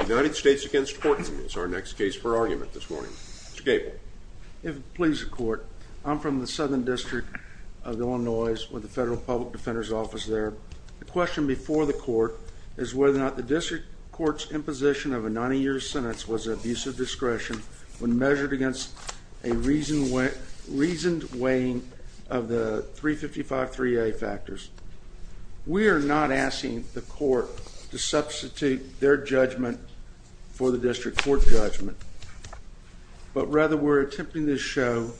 United States against Horton is our next case for argument this morning. Mr. Gable. If it pleases the court, I'm from the Southern District of Illinois with the Federal Public Defender's Office there. The question before the court is whether or not the district court's imposition of a 90-year sentence was an abuse of discretion when measured against a reasoned weighing of the 355-3A factors. We are not asking the court to substitute their judgment for the district court judgment, but rather we're attempting to show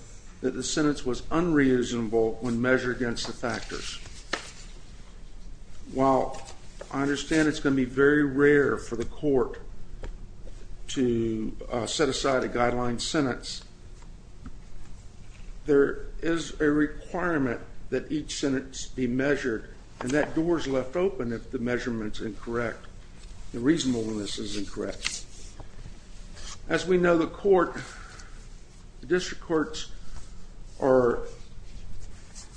that the sentence was unreasonable when measured against the factors. While I understand it's going to be very rare for the court to set aside a guideline sentence, there is a requirement that each sentence be measured, and that door is left open if the measurement is incorrect. The reasonableness is incorrect. As we know, the district courts are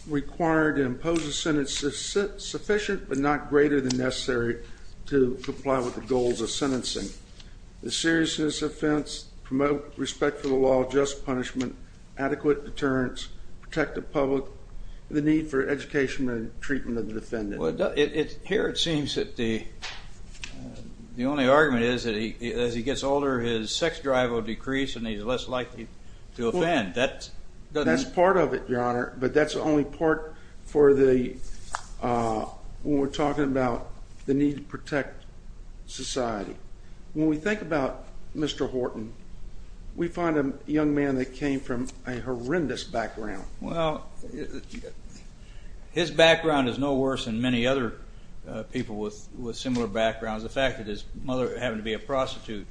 required to impose a sentence sufficient but not greater than necessary to comply with the goals of sentencing. The seriousness of offense, promote respect for the law, just punishment, adequate deterrence, protect the public, and the need for education and treatment of the defendant. Well, here it seems that the only argument is that as he gets older, his sex drive will decrease and he's less likely to offend. That's part of it, Your Honor, but that's only part for when we're talking about the need to protect society. When we think about Mr. Horton, we find a young man that came from a horrendous background. Well, his background is no worse than many other people with similar backgrounds. The fact that his mother happened to be a prostitute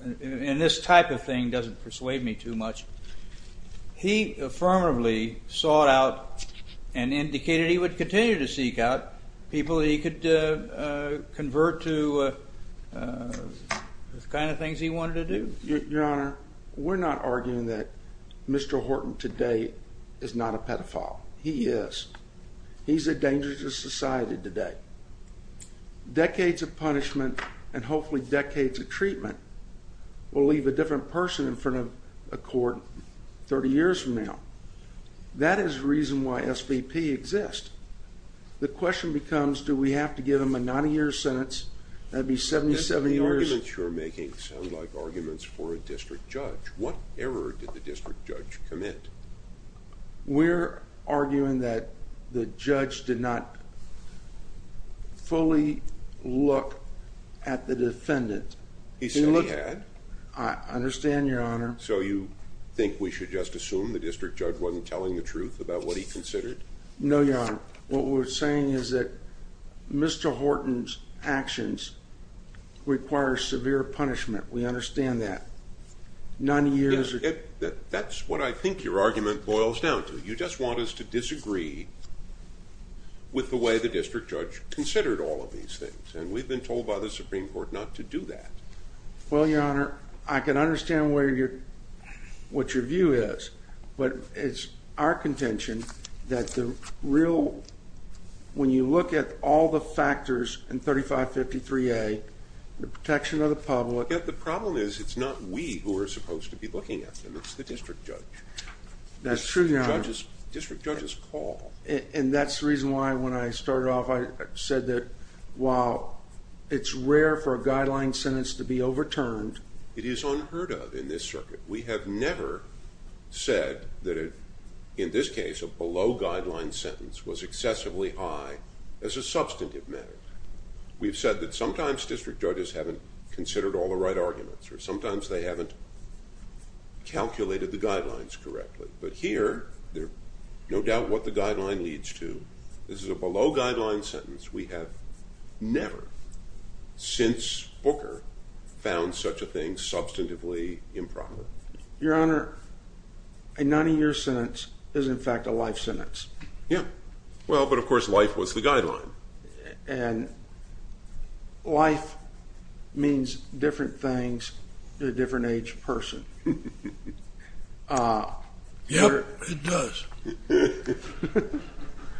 and this type of thing doesn't persuade me too much. He affirmatively sought out and indicated he would continue to seek out people he could convert to the kind of things he wanted to do. Your Honor, we're not arguing that Mr. Horton today is not a pedophile. He is. He's a danger to society today. Decades of punishment and hopefully decades of treatment will leave a different person in front of a court 30 years from now. That is the reason why SVP exists. The question becomes, do we have to give him a 90-year sentence? That'd be 70 years. The arguments you're making sound like arguments for a district judge. What error did the district judge commit? We're arguing that the judge did not fully look at the defendant. He said he had. I understand, Your Honor. So you think we should just assume the district judge wasn't telling the truth about what he considered? No, Your Honor. What we're saying is that Mr. Horton's actions require severe punishment. We understand that. That's what I think your argument boils down to. You just want us to disagree with the way the district judge considered all of these things. And we've been told by the Supreme Court not to do that. Well, Your Honor, I can understand what your view is. But it's our contention that when you look at all the factors in 3553A, the protection of the public… Well, yet the problem is it's not we who are supposed to be looking at them. It's the district judge. That's true, Your Honor. It's the district judge's call. And that's the reason why, when I started off, I said that while it's rare for a guideline sentence to be overturned… It is unheard of in this circuit. We have never said that, in this case, a below-guideline sentence was excessively high as a substantive matter. We've said that sometimes district judges haven't considered all the right arguments, or sometimes they haven't calculated the guidelines correctly. But here, there's no doubt what the guideline leads to. This is a below-guideline sentence. We have never, since Booker, found such a thing substantively impromptu. Your Honor, a 90-year sentence is, in fact, a life sentence. Yeah. Well, but, of course, life was the guideline. And life means different things to a different age person. Yep, it does.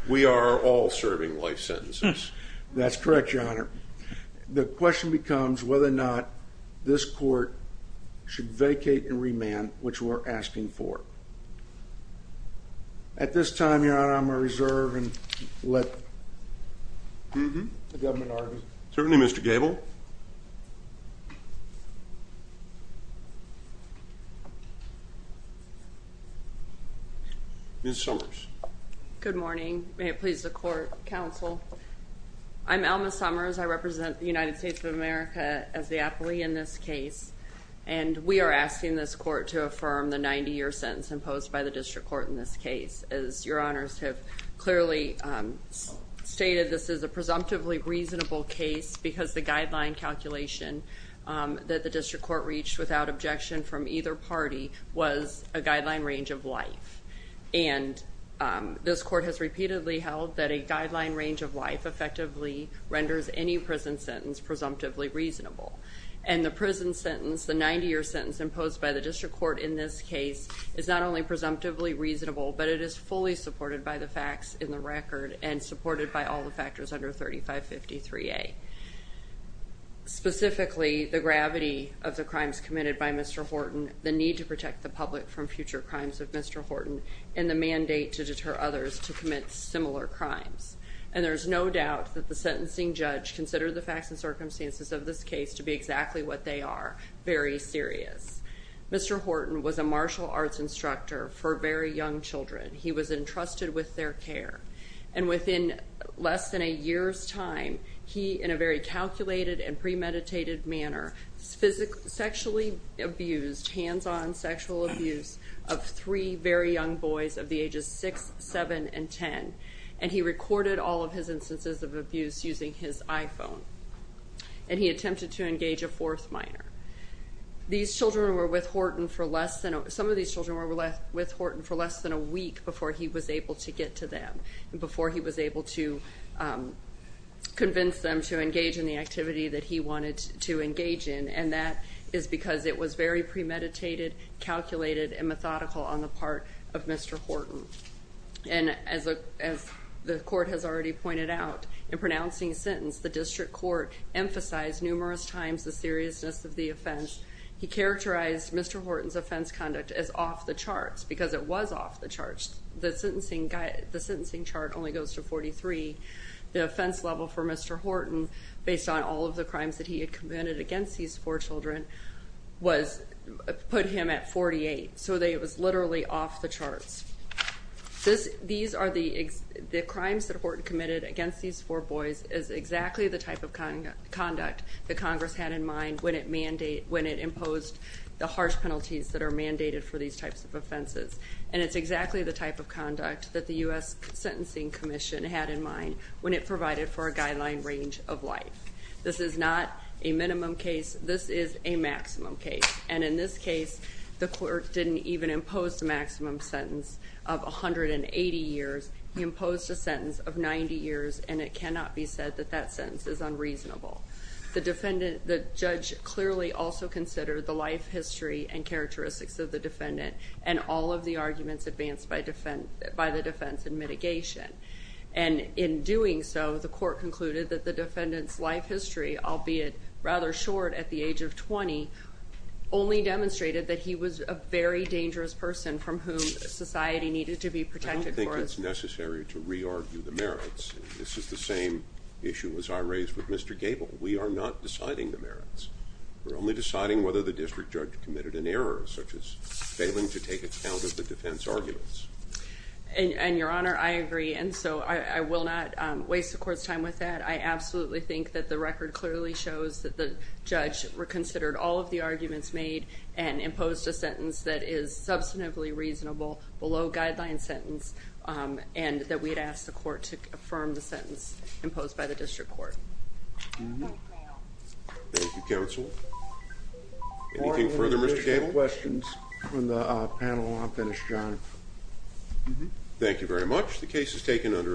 We are all serving life sentences. That's correct, Your Honor. The question becomes whether or not this court should vacate and remand, which we're asking for. At this time, Your Honor, I'm going to reserve and let the government argue. Certainly, Mr. Gable. Ms. Summers. Good morning. May it please the court, counsel. I'm Alma Summers. I represent the United States of America as the appellee in this case. And we are asking this court to affirm the 90-year sentence imposed by the district court in this case. As Your Honors have clearly stated, this is a presumptively reasonable case because the guideline calculation that the district court reached without objection from either party was a guideline range of life. And this court has repeatedly held that a guideline range of life effectively renders any prison sentence presumptively reasonable. And the prison sentence, the 90-year sentence imposed by the district court in this case, is not only presumptively reasonable, but it is fully supported by the facts in the record and supported by all the factors under 3553A. Specifically, the gravity of the crimes committed by Mr. Horton, the need to protect the public from future crimes of Mr. Horton, and the mandate to deter others to commit similar crimes. And there's no doubt that the sentencing judge considered the facts and circumstances of this case to be exactly what they are, very serious. Mr. Horton was a martial arts instructor for very young children. He was entrusted with their care. And within less than a year's time, he, in a very calculated and premeditated manner, sexually abused, hands-on sexual abuse of three very young boys of the ages 6, 7, and 10. And he recorded all of his instances of abuse using his iPhone. And he attempted to engage a fourth minor. Some of these children were with Horton for less than a week before he was able to get to them, before he was able to convince them to engage in the activity that he wanted to engage in. And that is because it was very premeditated, calculated, and methodical on the part of Mr. Horton. And as the court has already pointed out, in pronouncing his sentence, the district court emphasized numerous times the seriousness of the offense. He characterized Mr. Horton's offense conduct as off the charts because it was off the charts. The sentencing chart only goes to 43. The offense level for Mr. Horton, based on all of the crimes that he had committed against these four children, put him at 48. So it was literally off the charts. The crimes that Horton committed against these four boys is exactly the type of conduct that Congress had in mind when it imposed the harsh penalties that are mandated for these types of offenses. And it's exactly the type of conduct that the U.S. Sentencing Commission had in mind when it provided for a guideline range of life. This is not a minimum case. This is a maximum case. And in this case, the court didn't even impose the maximum sentence of 180 years. He imposed a sentence of 90 years, and it cannot be said that that sentence is unreasonable. The judge clearly also considered the life history and characteristics of the defendant and all of the arguments advanced by the defense in mitigation. And in doing so, the court concluded that the defendant's life history, albeit rather short at the age of 20, only demonstrated that he was a very dangerous person from whom society needed to be protected. I don't think it's necessary to re-argue the merits. This is the same issue as I raised with Mr. Gable. We are not deciding the merits. We're only deciding whether the district judge committed an error, such as failing to take account of the defense arguments. And, Your Honor, I agree. And so I will not waste the court's time with that. I absolutely think that the record clearly shows that the judge considered all of the arguments made and imposed a sentence that is substantively reasonable, below-guideline sentence, and that we'd ask the court to affirm the sentence imposed by the district court. Thank you, counsel. Anything further, Mr. Gable? Any questions from the panel? I'll finish, John. Thank you very much. The case is taken under advisement.